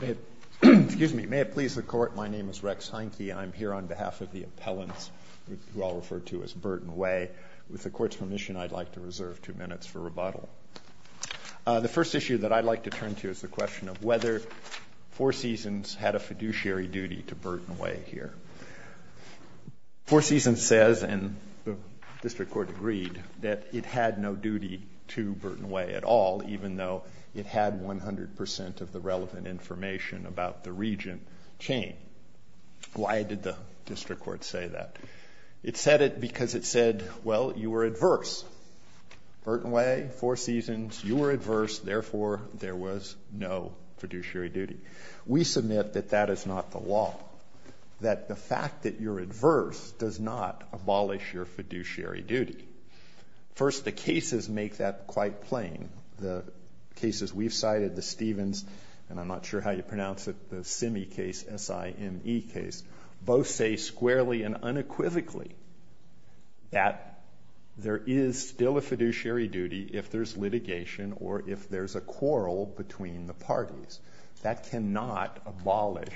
May it please the Court, my name is Rex Heineke and I'm here on behalf of the appellants who I'll refer to as Burton Way. With the Court's permission, I'd like to reserve two minutes for rebuttal. The first issue that I'd like to turn to is the question of whether Four Seasons had a fiduciary duty to Burton Way here. Four Seasons says, and the District Court agreed, that it had no duty to Burton Way at all even though it had 100% of the relevant information about the Regent chain. Why did the District Court say that? It said it because it said, well, you were adverse. Burton Way, Four Seasons, you were adverse, therefore there was no fiduciary duty. We submit that that is not the law, that the fact that you're adverse does not abolish your fiduciary duty. First, the cases make that quite plain. The cases we've cited, the Stevens, and I'm not sure how you pronounce it, the Simme case, S-I-M-E case, both say squarely and unequivocally that there is still a fiduciary duty if there's litigation or if there's a quarrel between the parties. That cannot abolish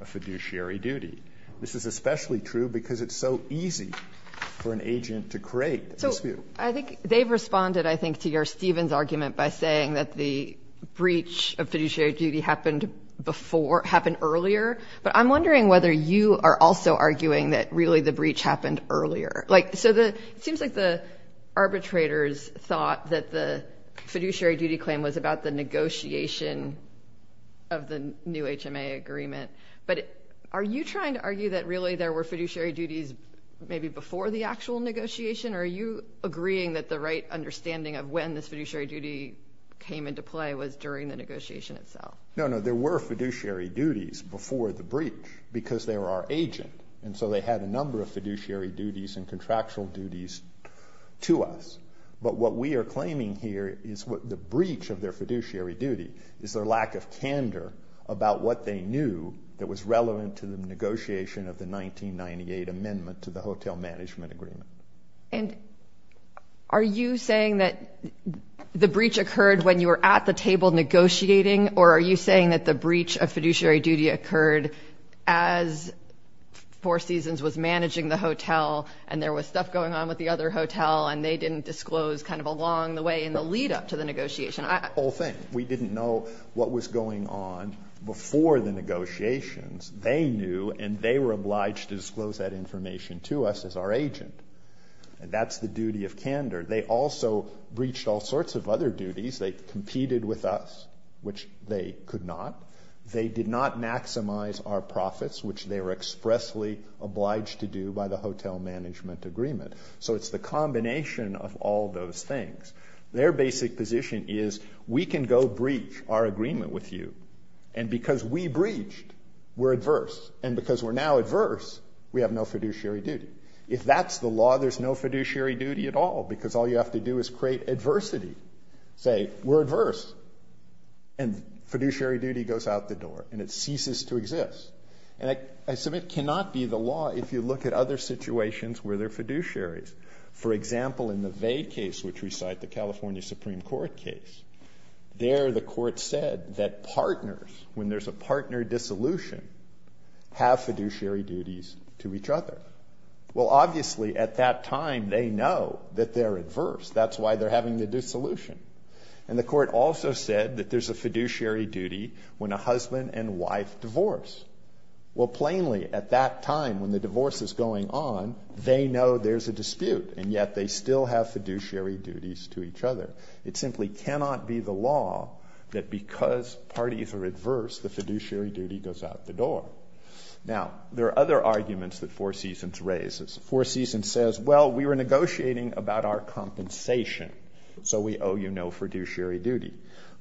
a fiduciary duty. This is especially true because it's so easy for an agent to create a dispute. So I think they've responded, I think, to your Stevens argument by saying that the breach of fiduciary duty happened before, happened earlier, but I'm wondering whether you are also arguing that really the breach happened earlier. Like, so it seems like the arbitrators thought that the fiduciary duty claim was about the negotiation of the new HMA agreement, but are you trying to argue that really there were fiduciary duties maybe before the actual negotiation, or are you agreeing that the right understanding of when this fiduciary duty came into play was during the negotiation itself? No, no, there were fiduciary duties before the breach because they were our agent, and so they had a number of fiduciary duties and contractual duties to us. But what we are claiming here is the breach of their fiduciary duty is their lack of candor about what they knew that was relevant to the negotiation of the 1998 amendment to the hotel management agreement. And are you saying that the breach occurred when you were at the table negotiating, or are you saying that the breach of fiduciary duty occurred as Four Seasons was managing the hotel and there was stuff going on with the other hotel and they didn't disclose kind of along the way in the lead-up to the negotiation? The whole thing. We didn't know what was going on before the negotiations. They knew and they were obliged to disclose that information to us as our agent. And that's the duty of candor. They also breached all sorts of other duties. They competed with us, which they could not. They did not maximize our profits, which they were expressly obliged to do by the hotel management agreement. So it's the combination of all those things. Their basic position is we can go breach our agreement with you, and because we breached, we're adverse. And because we're now adverse, we have no fiduciary duty. If that's the law, there's no fiduciary duty at all because all you have to do is create adversity. Say, we're adverse, and fiduciary duty goes out the door and it ceases to exist. And I submit it cannot be the law if you look at other situations where there are fiduciaries. For example, in the Vade case, which we cite, the California Supreme Court case, there the court said that partners, when there's a partner dissolution, have fiduciary duties to each other. Well, obviously at that time they know that they're adverse. That's why they're having the dissolution. And the court also said that there's a fiduciary duty when a husband and wife divorce. Well, plainly, at that time when the divorce is going on, they know there's a dispute, and yet they still have fiduciary duties to each other. It simply cannot be the law that because parties are adverse, the fiduciary duty goes out the door. Now, there are other arguments that Four Seasons raises. Four Seasons says, well, we were negotiating about our compensation, so we owe you no fiduciary duty.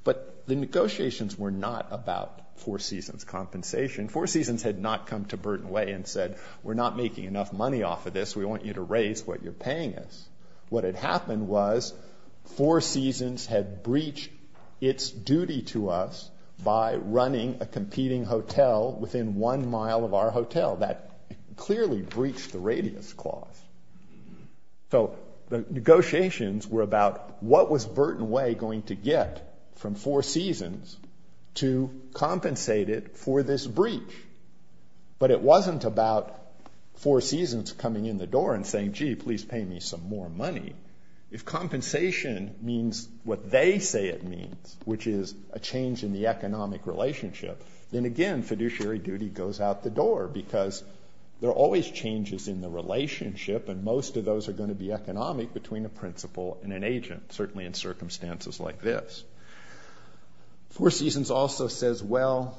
But the negotiations were not about Four Seasons' compensation. Four Seasons had not come to Burton Way and said, we're not making enough money off of this. We want you to raise what you're paying us. What had happened was Four Seasons had breached its duty to us by running a competing hotel within one mile of our hotel. That clearly breached the radius clause. So the negotiations were about what was Burton Way going to get from Four Seasons to compensate it for this breach. But it wasn't about Four Seasons coming in the door and saying, gee, please pay me some more money. If compensation means what they say it means, which is a change in the economic relationship, then, again, fiduciary duty goes out the door because there are always changes in the relationship, and most of those are going to be economic between a principal and an agent, certainly in circumstances like this. Four Seasons also says, well,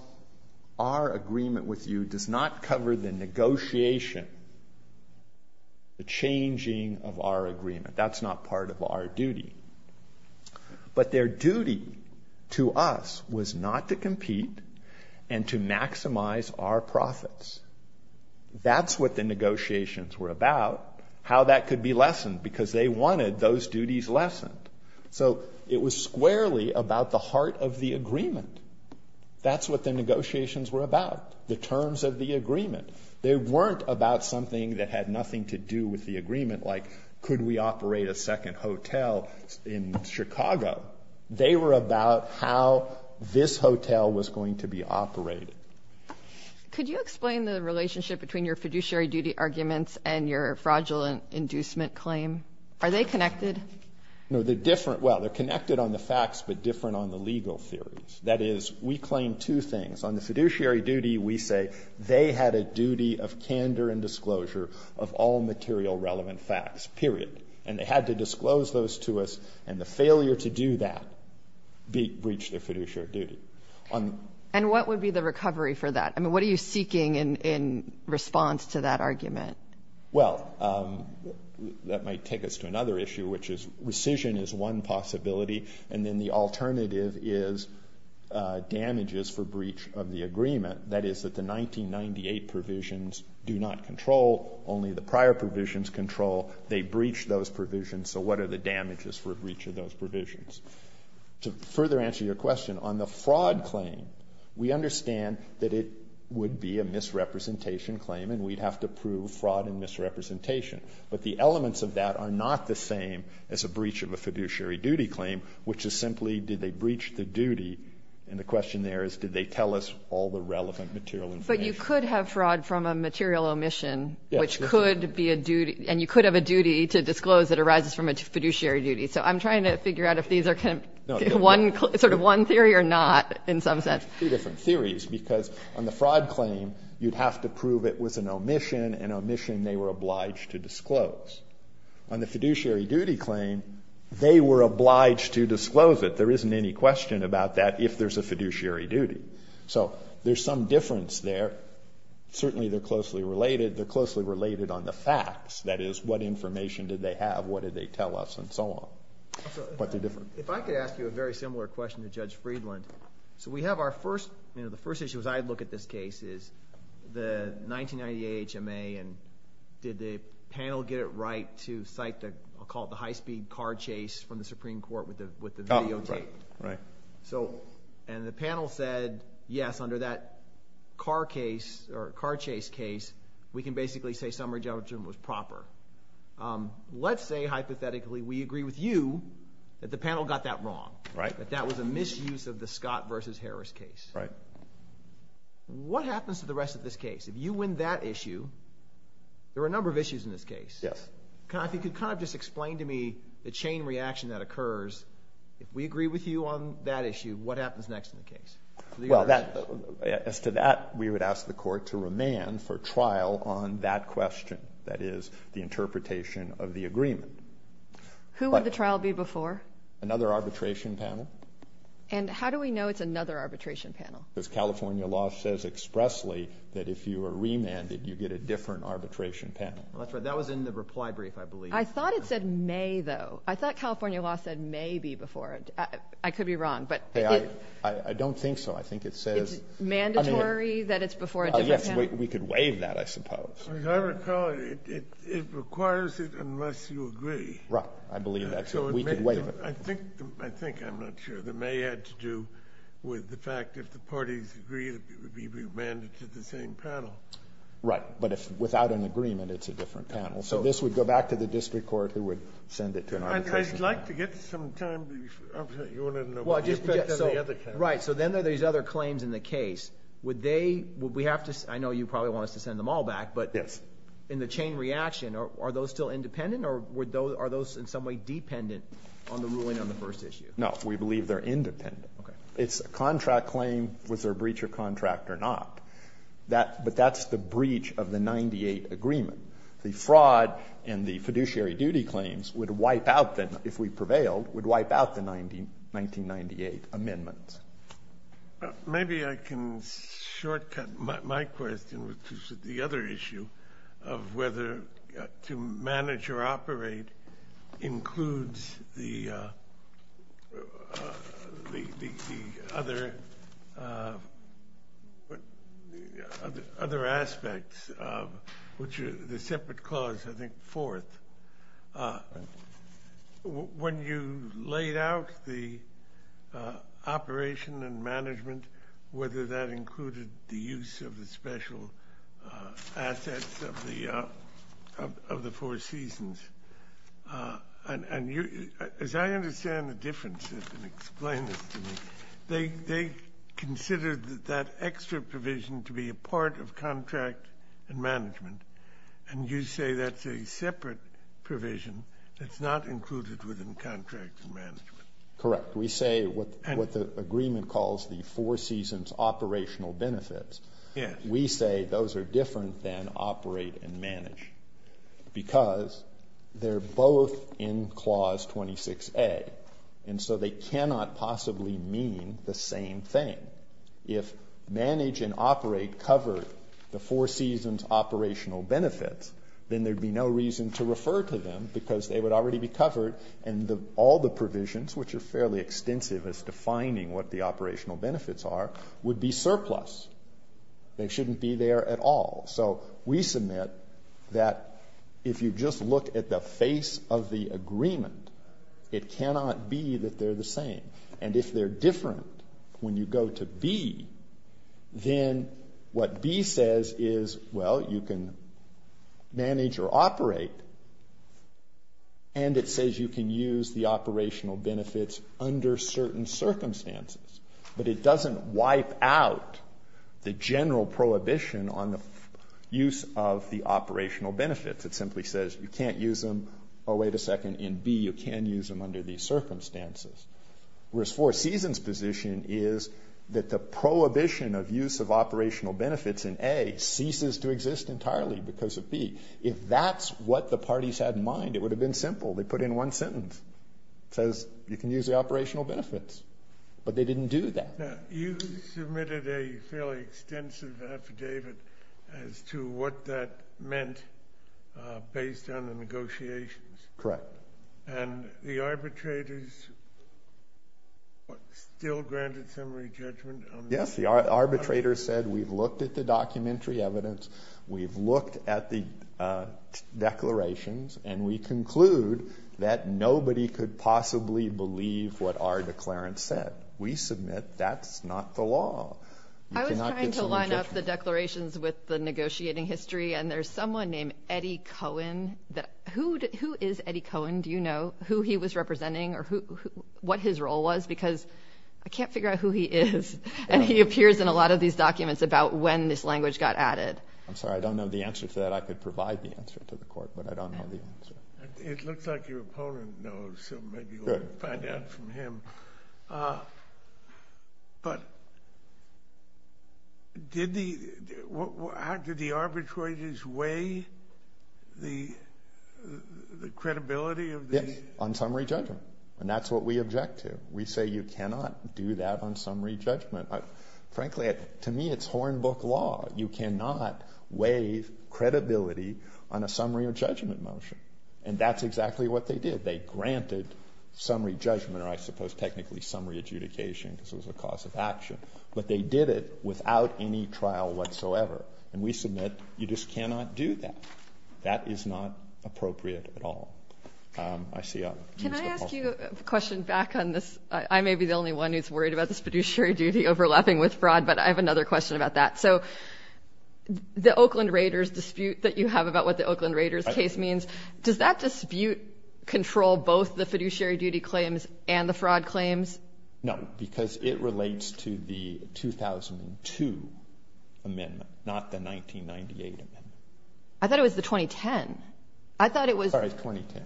our agreement with you does not cover the negotiation, the changing of our agreement. That's not part of our duty. But their duty to us was not to compete and to maximize our profits. That's what the negotiations were about, how that could be lessened, because they wanted those duties lessened. So it was squarely about the heart of the agreement. That's what the negotiations were about, the terms of the agreement. They weren't about something that had nothing to do with the agreement, like could we operate a second hotel in Chicago. They were about how this hotel was going to be operated. Could you explain the relationship between your fiduciary duty arguments and your fraudulent inducement claim? Are they connected? No, they're different. Well, they're connected on the facts, but different on the legal theories. That is, we claim two things. On the fiduciary duty, we say they had a duty of candor and disclosure of all material relevant facts, period. And they had to disclose those to us, and the failure to do that breached their fiduciary duty. And what would be the recovery for that? I mean, what are you seeking in response to that argument? Well, that might take us to another issue, which is rescission is one possibility, and then the alternative is damages for breach of the agreement. That is, that the 1998 provisions do not control, only the prior provisions control. They breached those provisions, so what are the damages for a breach of those provisions? To further answer your question, on the fraud claim, we understand that it would be a misrepresentation claim, and we'd have to prove fraud and misrepresentation. But the elements of that are not the same as a breach of a fiduciary duty claim, which is simply, did they breach the duty, and the question there is, did they tell us all the relevant material information? But you could have fraud from a material omission, which could be a duty, and you could have a duty to disclose that arises from a fiduciary duty. So I'm trying to figure out if these are kind of one, sort of one theory or not, in some sense. Two different theories, because on the fraud claim, you'd have to prove it was an omission they were obliged to disclose. On the fiduciary duty claim, they were obliged to disclose it. There isn't any question about that if there's a fiduciary duty. So there's some difference there. Certainly they're closely related. They're closely related on the facts. That is, what information did they have, what did they tell us, and so on. But they're different. If I could ask you a very similar question to Judge Friedland. So we have our first, you know, the first issue as I look at this case is the 1998 HMA, and did the panel get it right to cite the, I'll call it the high-speed car chase from the Supreme Court with the videotape. Oh, right, right. So, and the panel said, yes, under that car case, or car chase case, we can basically say summary judgment was proper. Let's say, hypothetically, we agree with you that the panel got that wrong. Right. That that was a misuse of the Scott versus Harris case. Right. What happens to the rest of this case? If you win that issue, there are a number of issues in this case. Yes. If you could kind of just explain to me the chain reaction that occurs. If we agree with you on that issue, what happens next in the case? Well, as to that, we would ask the court to remand for trial on that question. That is, the interpretation of the agreement. Who would the trial be before? Another arbitration panel. And how do we know it's another arbitration panel? Because California law says expressly that if you are remanded, you get a different arbitration panel. That's right. That was in the reply brief, I believe. I thought it said may, though. I thought California law said maybe before. I could be wrong, but. Hey, I don't think so. I think it says. It's mandatory that it's before a different panel? Yes, we could waive that, I suppose. I recall it requires it unless you agree. Right. I believe that's it. We could waive it. I think I'm not sure. The may had to do with the fact that if the parties agree, it would be remanded to the same panel. Right. But without an agreement, it's a different panel. So this would go back to the district court who would send it to an arbitration panel. I'd like to get some time. You wanted to know. Right. So then there are these other claims in the case. I know you probably want us to send them all back. But in the chain reaction, are those still independent? Or are those in some way dependent on the ruling on the first issue? No. We believe they're independent. Okay. It's a contract claim. Was there a breach of contract or not? But that's the breach of the 98 agreement. The fraud and the fiduciary duty claims would wipe out, if we prevailed, would wipe out the 1998 amendments. Maybe I can shortcut my question to the other issue of whether to manage or operate includes the other aspects of the separate clause, I think, fourth. When you laid out the operation and management, whether that included the use of the special assets of the Four Seasons, as I understand the differences and explain this to me, they considered that extra provision to be a part of contract and management. And you say that's a separate provision that's not included within contract and management. Correct. We say what the agreement calls the Four Seasons operational benefits, we say those are different than operate and manage because they're both in Clause 26A. And so they cannot possibly mean the same thing. If manage and operate covered the Four Seasons operational benefits, then there'd be no reason to refer to them because they would already be covered and all the provisions, which are fairly extensive as to finding what the operational benefits are, would be surplus. They shouldn't be there at all. So we submit that if you just look at the face of the agreement, it cannot be that they're the same. And if they're different when you go to B, then what B says is, well, you can manage or operate, and it says you can use the operational benefits under certain circumstances. But it doesn't wipe out the general prohibition on the use of the operational benefits. It simply says you can't use them, oh, wait a second, in B. You can use them under these circumstances. Whereas Four Seasons' position is that the prohibition of use of operational benefits in A ceases to exist entirely because of B. If that's what the parties had in mind, it would have been simple. They put in one sentence. It says you can use the operational benefits. But they didn't do that. You submitted a fairly extensive affidavit as to what that meant based on the negotiations. Correct. And the arbitrators still granted summary judgment? Yes. The arbitrators said we've looked at the documentary evidence, we've looked at the declarations, and we conclude that nobody could possibly believe what our declarant said. We submit that's not the law. I was trying to line up the declarations with the negotiating history, and there's someone named Eddie Cohen. Who is Eddie Cohen? Do you know who he was representing or what his role was? Because I can't figure out who he is, and he appears in a lot of these documents about when this language got added. I'm sorry, I don't know the answer to that. I could provide the answer to the court, but I don't know the answer. It looks like your opponent knows, so maybe we'll find out from him. But did the arbitrators weigh the credibility of this? Yes, on summary judgment, and that's what we object to. We say you cannot do that on summary judgment. Frankly, to me, it's hornbook law. You cannot weigh credibility on a summary or judgment motion, and that's exactly what they did. They granted summary judgment, or I suppose technically summary adjudication, because it was a cause of action, but they did it without any trial whatsoever, and we submit you just cannot do that. That is not appropriate at all. I see others. Can I ask you a question back on this? I may be the only one who's worried about this fiduciary duty overlapping with fraud, but I have another question about that. So the Oakland Raiders dispute that you have about what the Oakland Raiders case means, does that dispute control both the fiduciary duty claims and the fraud claims? No, because it relates to the 2002 amendment, not the 1998 amendment. I thought it was the 2010. I thought it was the 2010.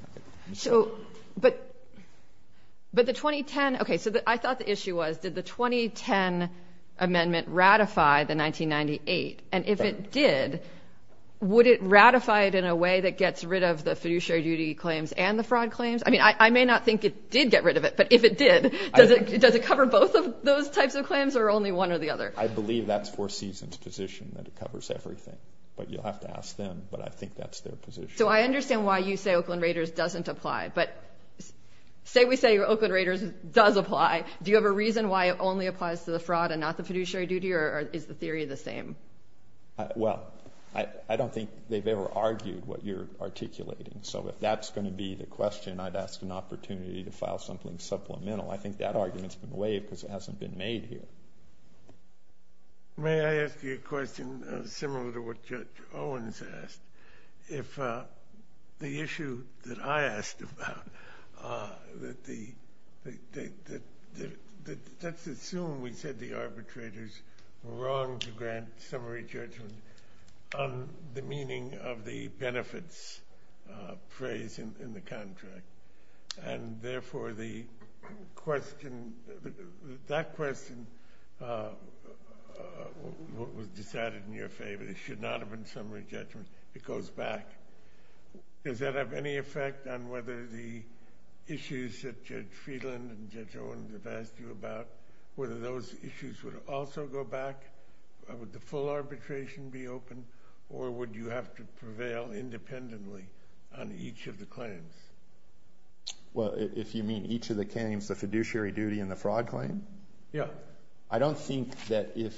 But the 2010, okay, so I thought the issue was did the 2010 amendment ratify the 1998, and if it did, would it ratify it in a way that gets rid of the fiduciary duty claims and the fraud claims? I mean, I may not think it did get rid of it, but if it did, does it cover both of those types of claims or only one or the other? I believe that's Four Seasons' position, that it covers everything. But you'll have to ask them, but I think that's their position. So I understand why you say Oakland Raiders doesn't apply, but say we say Oakland Raiders does apply. Do you have a reason why it only applies to the fraud and not the fiduciary duty, or is the theory the same? Well, I don't think they've ever argued what you're articulating. So if that's going to be the question, I'd ask an opportunity to file something supplemental. I think that argument's been waived because it hasn't been made here. May I ask you a question similar to what Judge Owens asked? The issue that I asked about, let's assume we said the arbitrators were wrong to grant summary judgment on the meaning of the benefits phrase in the contract, and therefore that question was decided in your favor. It should not have been summary judgment. It goes back. Does that have any effect on whether the issues that Judge Friedland and Judge Owens have asked you about, whether those issues would also go back? Would the full arbitration be open, or would you have to prevail independently on each of the claims? Well, if you mean each of the claims, the fiduciary duty and the fraud claim? Yeah. I don't think that if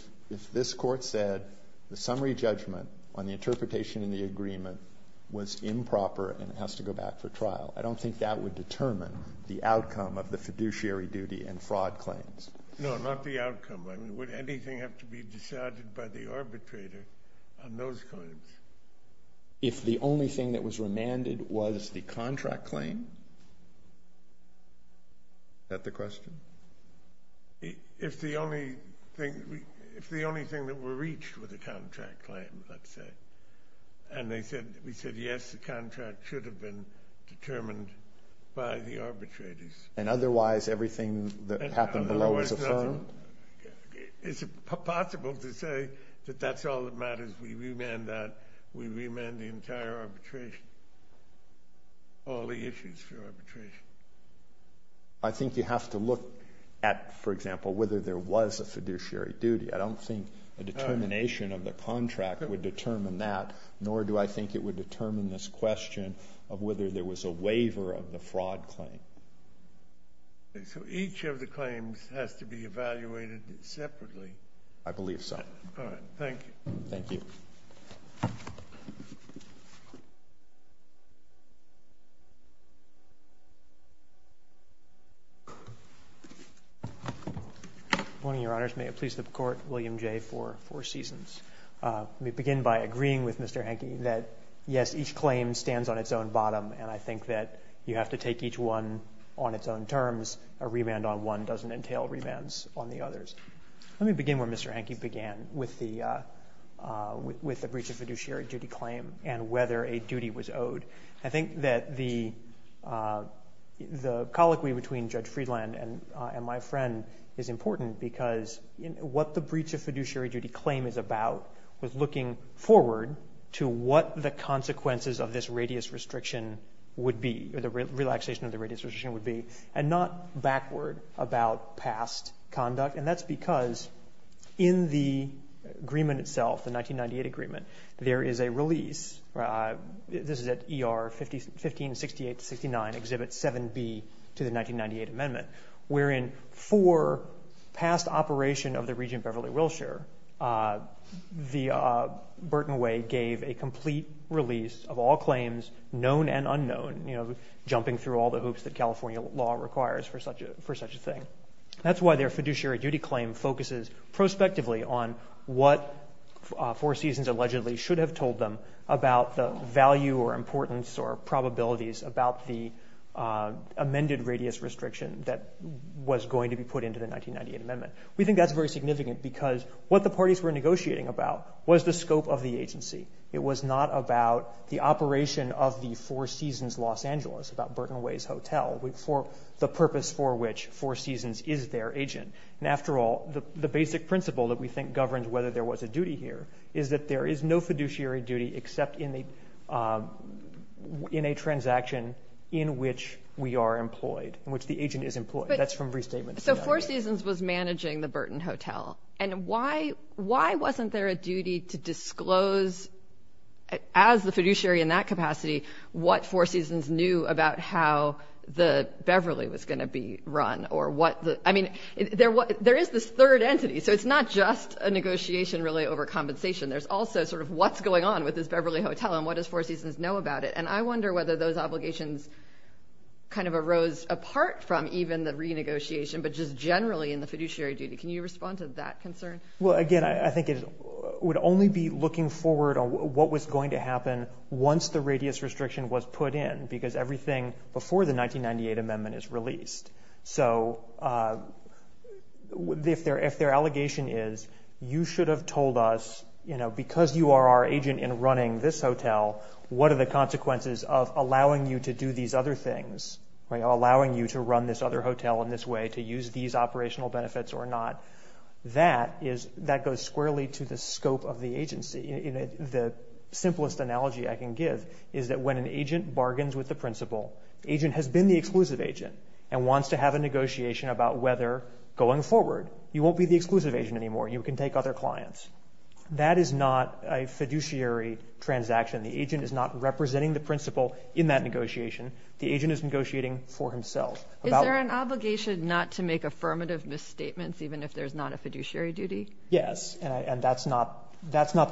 this Court said the summary judgment on the interpretation in the agreement was improper and it has to go back for trial, I don't think that would determine the outcome of the fiduciary duty and fraud claims. No, not the outcome. I mean, would anything have to be decided by the arbitrator on those claims? If the only thing that was remanded was the contract claim? Is that the question? If the only thing that were reached were the contract claims, let's say, and we said, yes, the contract should have been determined by the arbitrators. And otherwise everything that happened below was affirmed? It's possible to say that that's all that matters. We remand that. We remand the entire arbitration, all the issues for arbitration. I think you have to look at, for example, whether there was a fiduciary duty. I don't think the determination of the contract would determine that, nor do I think it would determine this question of whether there was a waiver of the fraud claim. So each of the claims has to be evaluated separately? I believe so. All right. Thank you. Thank you. Good morning, Your Honors. May it please the Court, William J. for four seasons. Let me begin by agreeing with Mr. Hanke that, yes, each claim stands on its own bottom, and I think that you have to take each one on its own terms. A remand on one doesn't entail remands on the others. Let me begin where Mr. Hanke began with the breach of fiduciary duty claim and whether a duty was owed. I think that the colloquy between Judge Friedland and my friend is important because what the breach of fiduciary duty claim is about was looking forward to what the consequences of this radius restriction would be, or the relaxation of the radius restriction would be, and not backward about past conduct, and that's because in the agreement itself, the 1998 agreement, there is a release. This is at ER 1568-69, Exhibit 7B to the 1998 amendment, wherein for past operation of the Regent Beverly Wilshire, the Burton Way gave a complete release of all claims, known and unknown, jumping through all the hoops that California law requires for such a thing. That's why their fiduciary duty claim focuses prospectively on what Four Seasons allegedly should have told them about the value or importance or probabilities about the amended radius restriction that was going to be put into the 1998 amendment. We think that's very significant because what the parties were negotiating about was the scope of the agency. It was not about the operation of the Four Seasons Los Angeles, about Burton Way's hotel, the purpose for which Four Seasons is their agent. After all, the basic principle that we think governs whether there was a duty here is that there is no fiduciary duty except in a transaction in which we are employed, in which the agent is employed. That's from restatements. So Four Seasons was managing the Burton Hotel, and why wasn't there a duty to disclose, as the fiduciary in that capacity, what Four Seasons knew about how the Beverly was going to be run? I mean, there is this third entity, so it's not just a negotiation really over compensation. There's also sort of what's going on with this Beverly Hotel and what does Four Seasons know about it? And I wonder whether those obligations kind of arose apart from even the renegotiation but just generally in the fiduciary duty. Can you respond to that concern? Well, again, I think it would only be looking forward on what was going to happen once the radius restriction was put in because everything before the 1998 amendment is released. So if their allegation is you should have told us, because you are our agent in running this hotel, what are the consequences of allowing you to do these other things, allowing you to run this other hotel in this way, to use these operational benefits or not, that goes squarely to the scope of the agency. The simplest analogy I can give is that when an agent bargains with the principal, the agent has been the exclusive agent and wants to have a negotiation about whether going forward you won't be the exclusive agent anymore, you can take other clients. That is not a fiduciary transaction. The agent is not representing the principal in that negotiation. The agent is negotiating for himself. Is there an obligation not to make affirmative misstatements even if there's not a fiduciary duty? Yes, and that's not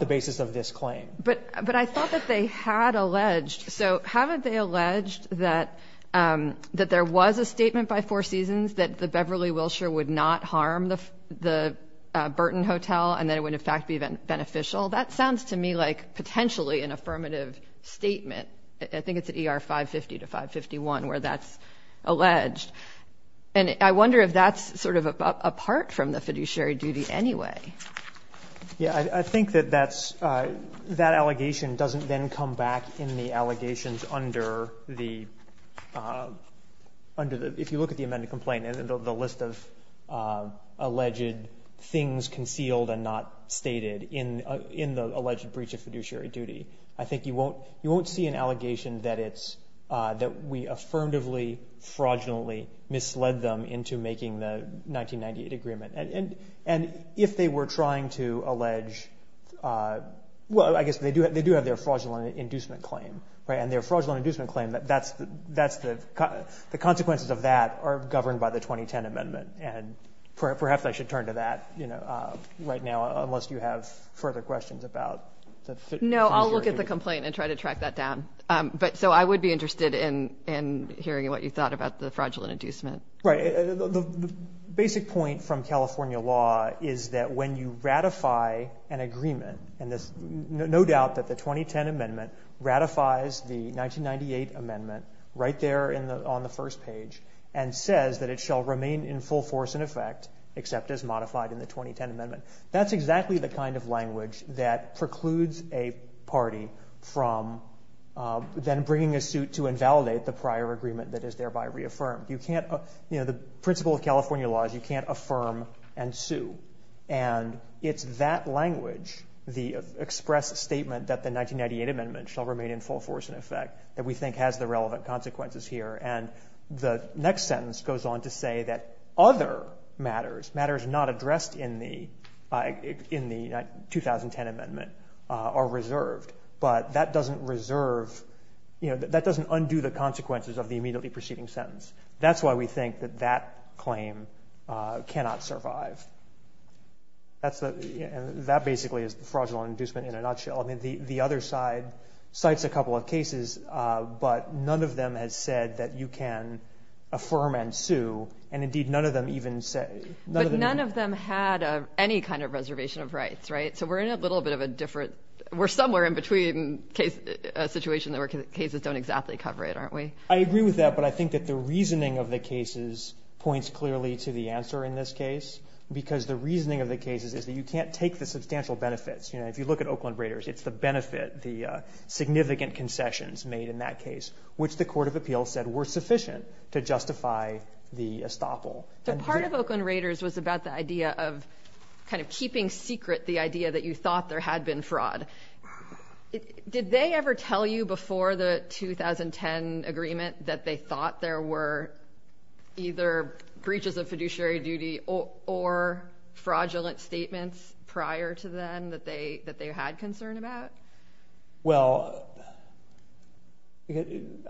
the basis of this claim. But I thought that they had alleged. So haven't they alleged that there was a statement by Four Seasons that the Beverly Wilshire would not harm the Burton Hotel and that it would in fact be beneficial? That sounds to me like potentially an affirmative statement. I think it's at ER 550 to 551 where that's alleged. And I wonder if that's sort of apart from the fiduciary duty anyway. Yeah, I think that that's – that allegation doesn't then come back in the allegations under the – under the – if you look at the amended complaint, the list of alleged things concealed and not stated in the alleged breach of fiduciary duty, I think you won't see an allegation that it's – that we affirmatively, fraudulently misled them into making the 1998 agreement. And if they were trying to allege – well, I guess they do have their fraudulent inducement claim, right? And their fraudulent inducement claim, that's the – the consequences of that are governed by the 2010 amendment. And perhaps I should turn to that, you know, right now unless you have further questions about the fiduciary duty. No, I'll look at the complaint and try to track that down. But – so I would be interested in hearing what you thought about the fraudulent inducement. Right. The basic point from California law is that when you ratify an agreement, and there's no doubt that the 2010 amendment ratifies the 1998 amendment right there in the – on the first page, and says that it shall remain in full force in effect except as modified in the 2010 amendment. That's exactly the kind of language that precludes a party from then bringing a suit to invalidate the prior agreement that is thereby reaffirmed. You can't – you know, the principle of California law is you can't affirm and sue. And it's that language, the expressed statement that the 1998 amendment shall remain in full force in effect that we think has the relevant consequences here. And the next sentence goes on to say that other matters, matters not addressed in the – in the 2010 amendment are reserved. But that doesn't reserve – you know, that doesn't undo the consequences of the immediately preceding sentence. That's why we think that that claim cannot survive. That's the – and that basically is the fraudulent inducement in a nutshell. I mean, the other side cites a couple of cases, but none of them has said that you can affirm and sue. And, indeed, none of them even say – But none of them had any kind of reservation of rights, right? So we're in a little bit of a different – we're somewhere in between a situation where cases don't exactly cover it, aren't we? I agree with that. But I think that the reasoning of the cases points clearly to the answer in this case, because the reasoning of the cases is that you can't take the substantial benefits. You know, if you look at Oakland Raiders, it's the benefit, the significant concessions made in that case, which the court of appeals said were sufficient to justify the estoppel. So part of Oakland Raiders was about the idea of kind of keeping secret the idea that you thought there had been fraud. Did they ever tell you before the 2010 agreement that they thought there were either breaches of fiduciary duty or fraudulent statements prior to then that they had concern about? Well,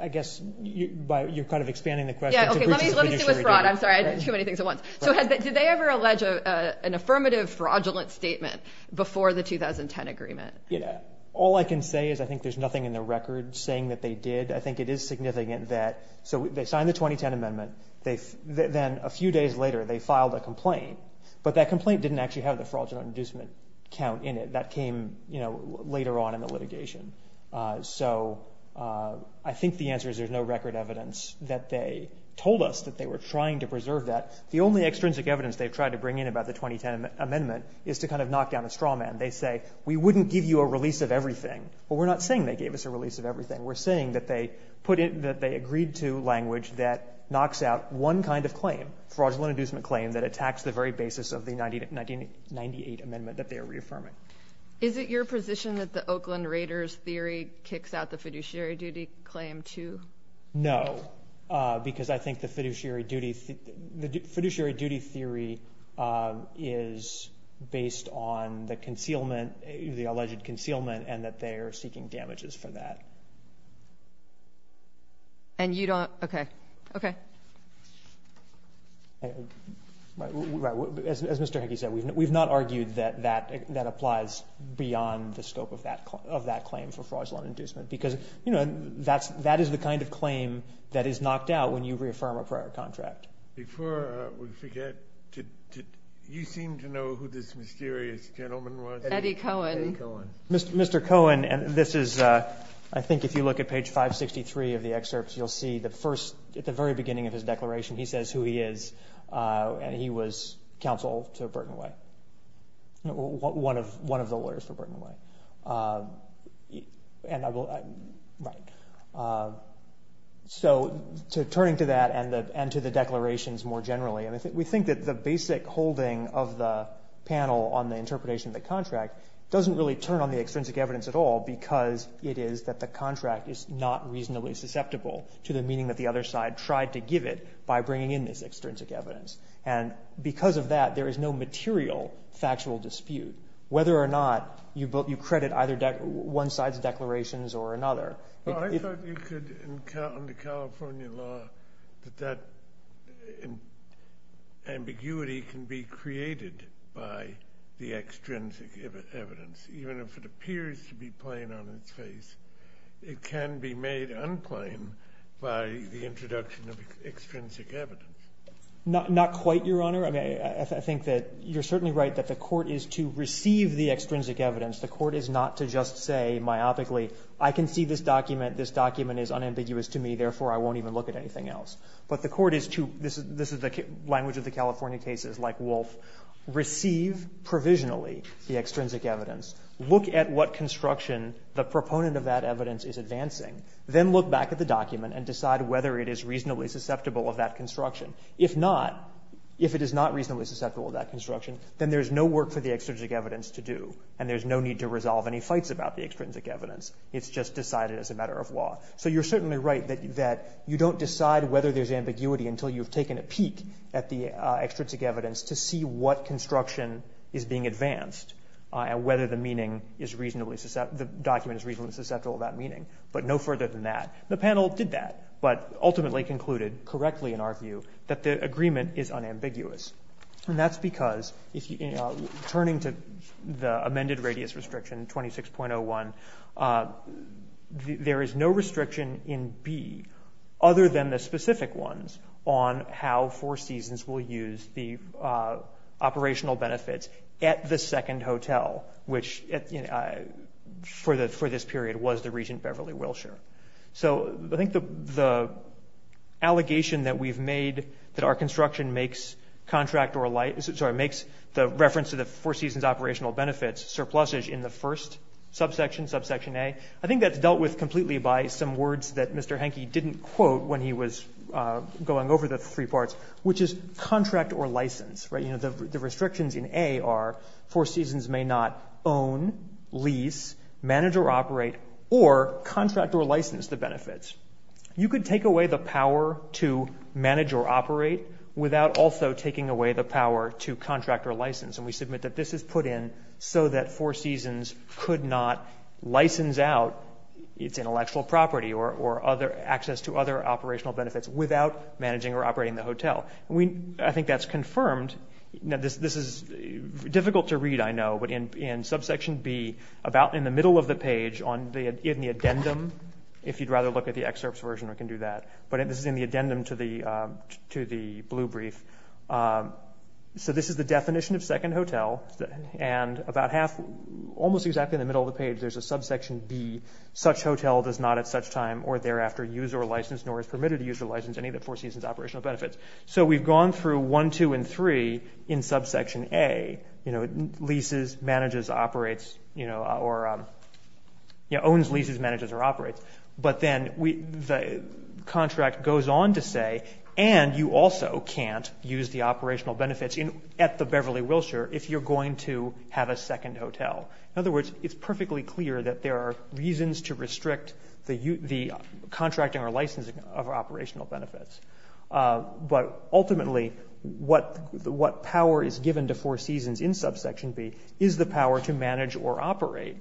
I guess you're kind of expanding the question. Yeah, okay, let me see what's fraud. I'm sorry, I did too many things at once. So did they ever allege an affirmative, fraudulent statement before the 2010 agreement? All I can say is I think there's nothing in the record saying that they did. I think it is significant that, so they signed the 2010 amendment. Then a few days later, they filed a complaint. But that complaint didn't actually have the fraudulent inducement count in it. That came later on in the litigation. So I think the answer is there's no record evidence that they told us that they were trying to preserve that. The only extrinsic evidence they've tried to bring in about the 2010 amendment is to kind of knock down a straw man. They say, we wouldn't give you a release of everything. Well, we're not saying they gave us a release of everything. We're saying that they agreed to language that knocks out one kind of claim, fraudulent inducement claim, that attacks the very basis of the 1998 amendment that they are reaffirming. Is it your position that the Oakland Raiders theory kicks out the fiduciary duty claim too? No, because I think the fiduciary duty theory is based on the concealment, the alleged concealment, and that they are seeking damages for that. And you don't, okay. Okay. As Mr. Hickey said, we've not argued that that applies beyond the scope of that claim for fraudulent inducement because, you know, that is the kind of claim that is knocked out when you reaffirm a prior contract. Before we forget, you seem to know who this mysterious gentleman was. Eddie Cohen. Eddie Cohen. Mr. Cohen, and this is, I think if you look at page 563 of the excerpts, you'll see the first, at the very beginning of his declaration, he says who he is, and he was counsel to Burton Way, one of the lawyers for Burton Way. And I will, right. So turning to that and to the declarations more generally, we think that the basic holding of the panel on the interpretation of the contract doesn't really turn on the extrinsic evidence at all because it is that the contract is not reasonably susceptible to the meaning that the other side tried to give it by bringing in this extrinsic evidence. And because of that, there is no material factual dispute whether or not you credit either one side's declarations or another. I thought you could, under California law, that that ambiguity can be created by the extrinsic evidence. Even if it appears to be plain on its face, it can be made unplain by the introduction of extrinsic evidence. Not quite, Your Honor. I think that you're certainly right that the court is to receive the extrinsic evidence. The court is not to just say myopically, I can see this document. This document is unambiguous to me. Therefore, I won't even look at anything else. But the court is to, this is the language of the California cases, like Wolf, receive provisionally the extrinsic evidence, look at what construction the proponent of that evidence is advancing, then look back at the document and decide whether it is reasonably susceptible of that construction. If not, if it is not reasonably susceptible of that construction, then there is no work for the extrinsic evidence to do, and there is no need to resolve any fights about the extrinsic evidence. It's just decided as a matter of law. So you're certainly right that you don't decide whether there's ambiguity until you've taken a peek at the extrinsic evidence to see what construction is being advanced and whether the meaning is reasonably susceptible, the document is reasonably susceptible to that meaning. But no further than that. The panel did that, but ultimately concluded correctly in our view that the agreement is unambiguous. And that's because turning to the amended radius restriction 26.01, there is no restriction in B other than the specific ones on how Four Seasons will use the operational benefits at the second hotel, which for this period was the Regent Beverly Wilshire. So I think the allegation that we've made that our construction makes the reference to the Four Seasons operational benefits surplusage in the first subsection, subsection A, I think that's dealt with completely by some words that Mr. Henke didn't quote when he was going over the three parts, which is contract or license. The restrictions in A are Four Seasons may not own, lease, manage or operate, or contract or license the benefits. You could take away the power to manage or operate without also taking away the power to contract or license. And we submit that this is put in so that Four Seasons could not license out its intellectual property or other access to other operational benefits without managing or operating the hotel. I think that's confirmed. This is difficult to read, I know, but in subsection B, about in the middle of the page in the addendum, if you'd rather look at the excerpts version, we can do that. But this is in the addendum to the blue brief. So this is the definition of second hotel. And about half, almost exactly in the middle of the page, there's a subsection B, such hotel does not at such time or thereafter use or license nor is permitted to use or license any of the Four Seasons operational benefits. So we've gone through one, two and three in subsection A, leases, manages, operates, or owns, leases, manages or operates. But then the contract goes on to say, and you also can't use the operational benefits at the Beverly Wilshire if you're going to have a second hotel. In other words, it's perfectly clear that there are reasons to restrict the contracting or licensing of operational benefits. But ultimately, what power is given to Four Seasons in subsection B is the power to manage or operate,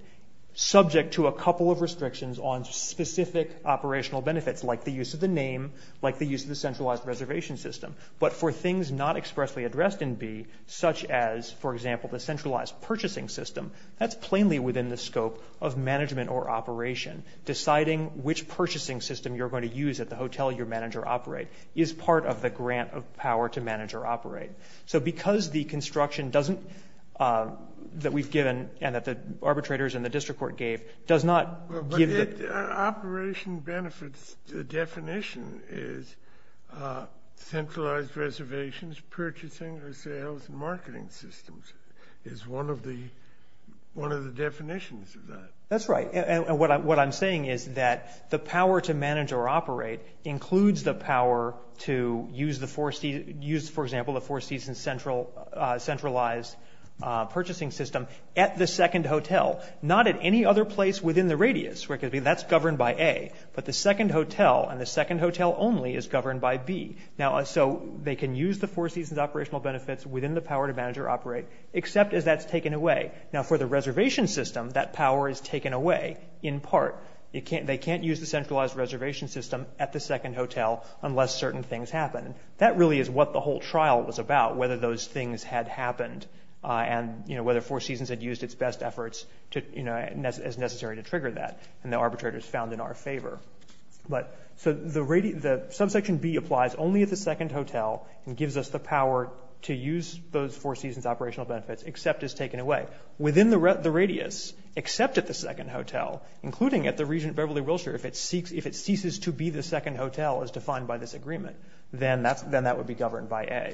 subject to a couple of restrictions on specific operational benefits, like the use of the name, like the use of the centralized reservation system. But for things not expressly addressed in B, such as, for example, the centralized purchasing system, that's plainly within the scope of management or operation. Deciding which purchasing system you're going to use at the hotel you manage or operate is part of the grant of power to manage or operate. So because the construction doesn't, that we've given and that the arbitrators and the district court gave, does not give the operation benefits. The definition is centralized reservations, purchasing or sales and marketing systems is one of the definitions of that. That's right. And what I'm saying is that the power to manage or operate includes the power to use, for example, the Four Seasons centralized purchasing system at the second hotel, not at any other place within the radius. That's governed by A, but the second hotel and the second hotel only is governed by B. So they can use the Four Seasons operational benefits within the power to manage or operate, except as that's taken away. Now for the reservation system, that power is taken away in part. They can't use the centralized reservation system at the second hotel unless certain things happen. That really is what the whole trial was about, whether those things had happened and whether Four Seasons had used its best efforts as necessary to trigger that. And the arbitrator is found in our favor. So subsection B applies only at the second hotel and gives us the power to use those Four Seasons operational benefits, except as taken away. Within the radius, except at the second hotel, including at the Regent Beverly Wilshire, if it ceases to be the second hotel, as defined by this agreement, then that would be governed by A.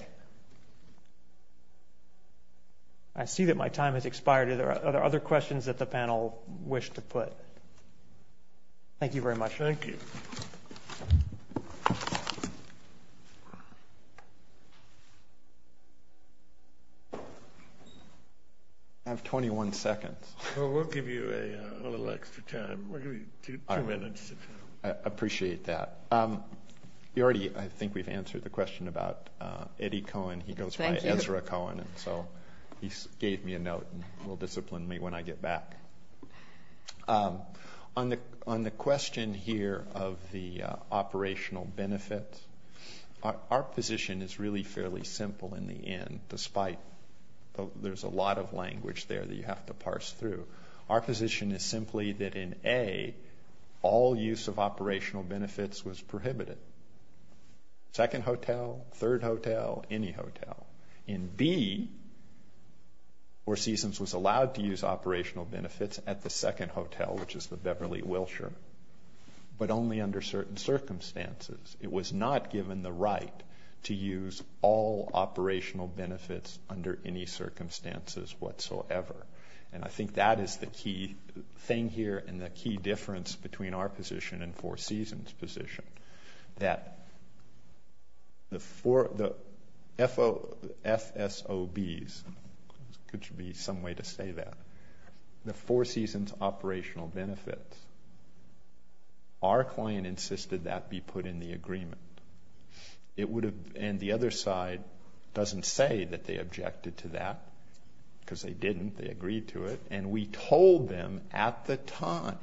I see that my time has expired. Are there other questions that the panel wish to put? Thank you very much. Thank you. I have 21 seconds. Well, we'll give you a little extra time. We'll give you two minutes. I appreciate that. You already, I think, we've answered the question about Eddie Cohen. He goes by Ezra Cohen, and so he gave me a note and will discipline me when I get back. On the question here of the operational benefits, our position is really fairly simple in the end, despite there's a lot of language there that you have to parse through. Our position is simply that in A, all use of operational benefits was prohibited. Second hotel, third hotel, any hotel. In B, Four Seasons was allowed to use operational benefits at the second hotel, which is the Beverly Wilshire, but only under certain circumstances. It was not given the right to use all operational benefits under any circumstances whatsoever. And I think that is the key thing here and Four Seasons' position, that the FSOBs, there should be some way to say that, the Four Seasons operational benefits, our client insisted that be put in the agreement. And the other side doesn't say that they objected to that, because they didn't, they agreed to it, and we told them at the time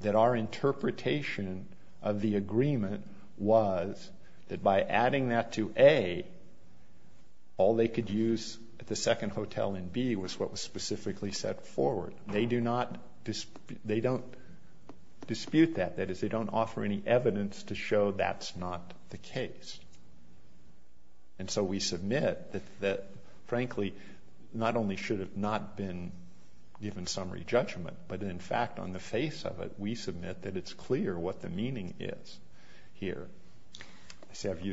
that our interpretation of the agreement was that by adding that to A, all they could use at the second hotel in B was what was specifically set forward. They don't dispute that. That is, they don't offer any evidence to show that's not the case. And so we submit that, frankly, not only should it not have been given summary judgment, but in fact, on the face of it, we submit that it's clear what the meaning is here.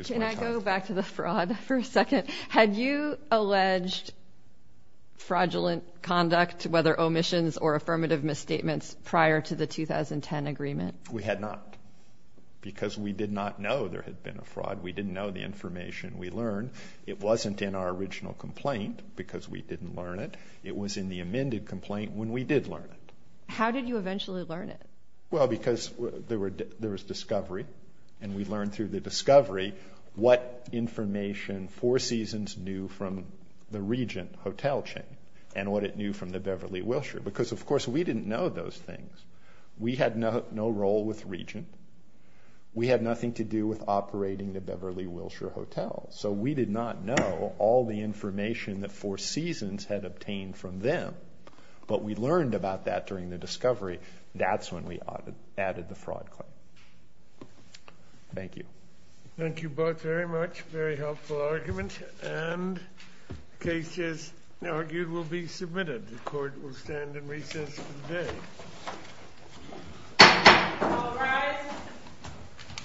Can I go back to the fraud for a second? Had you alleged fraudulent conduct, whether omissions or affirmative misstatements, prior to the 2010 agreement? We had not, because we did not know there had been a fraud. We didn't know the information we learned. It wasn't in our original complaint, because we didn't learn it. It was in the amended complaint when we did learn it. How did you eventually learn it? Well, because there was discovery, and we learned through the discovery what information Four Seasons knew from the Regent hotel chain and what it knew from the Beverly Wilshire, because, of course, we didn't know those things. We had no role with Regent. We had nothing to do with operating the Beverly Wilshire hotel, so we did not know all the information that Four Seasons had obtained from them. But we learned about that during the discovery. That's when we added the fraud claim. Thank you. Thank you both very much. Very helpful argument. And the case, as argued, will be submitted. The Court will stand in recess for the day. All rise.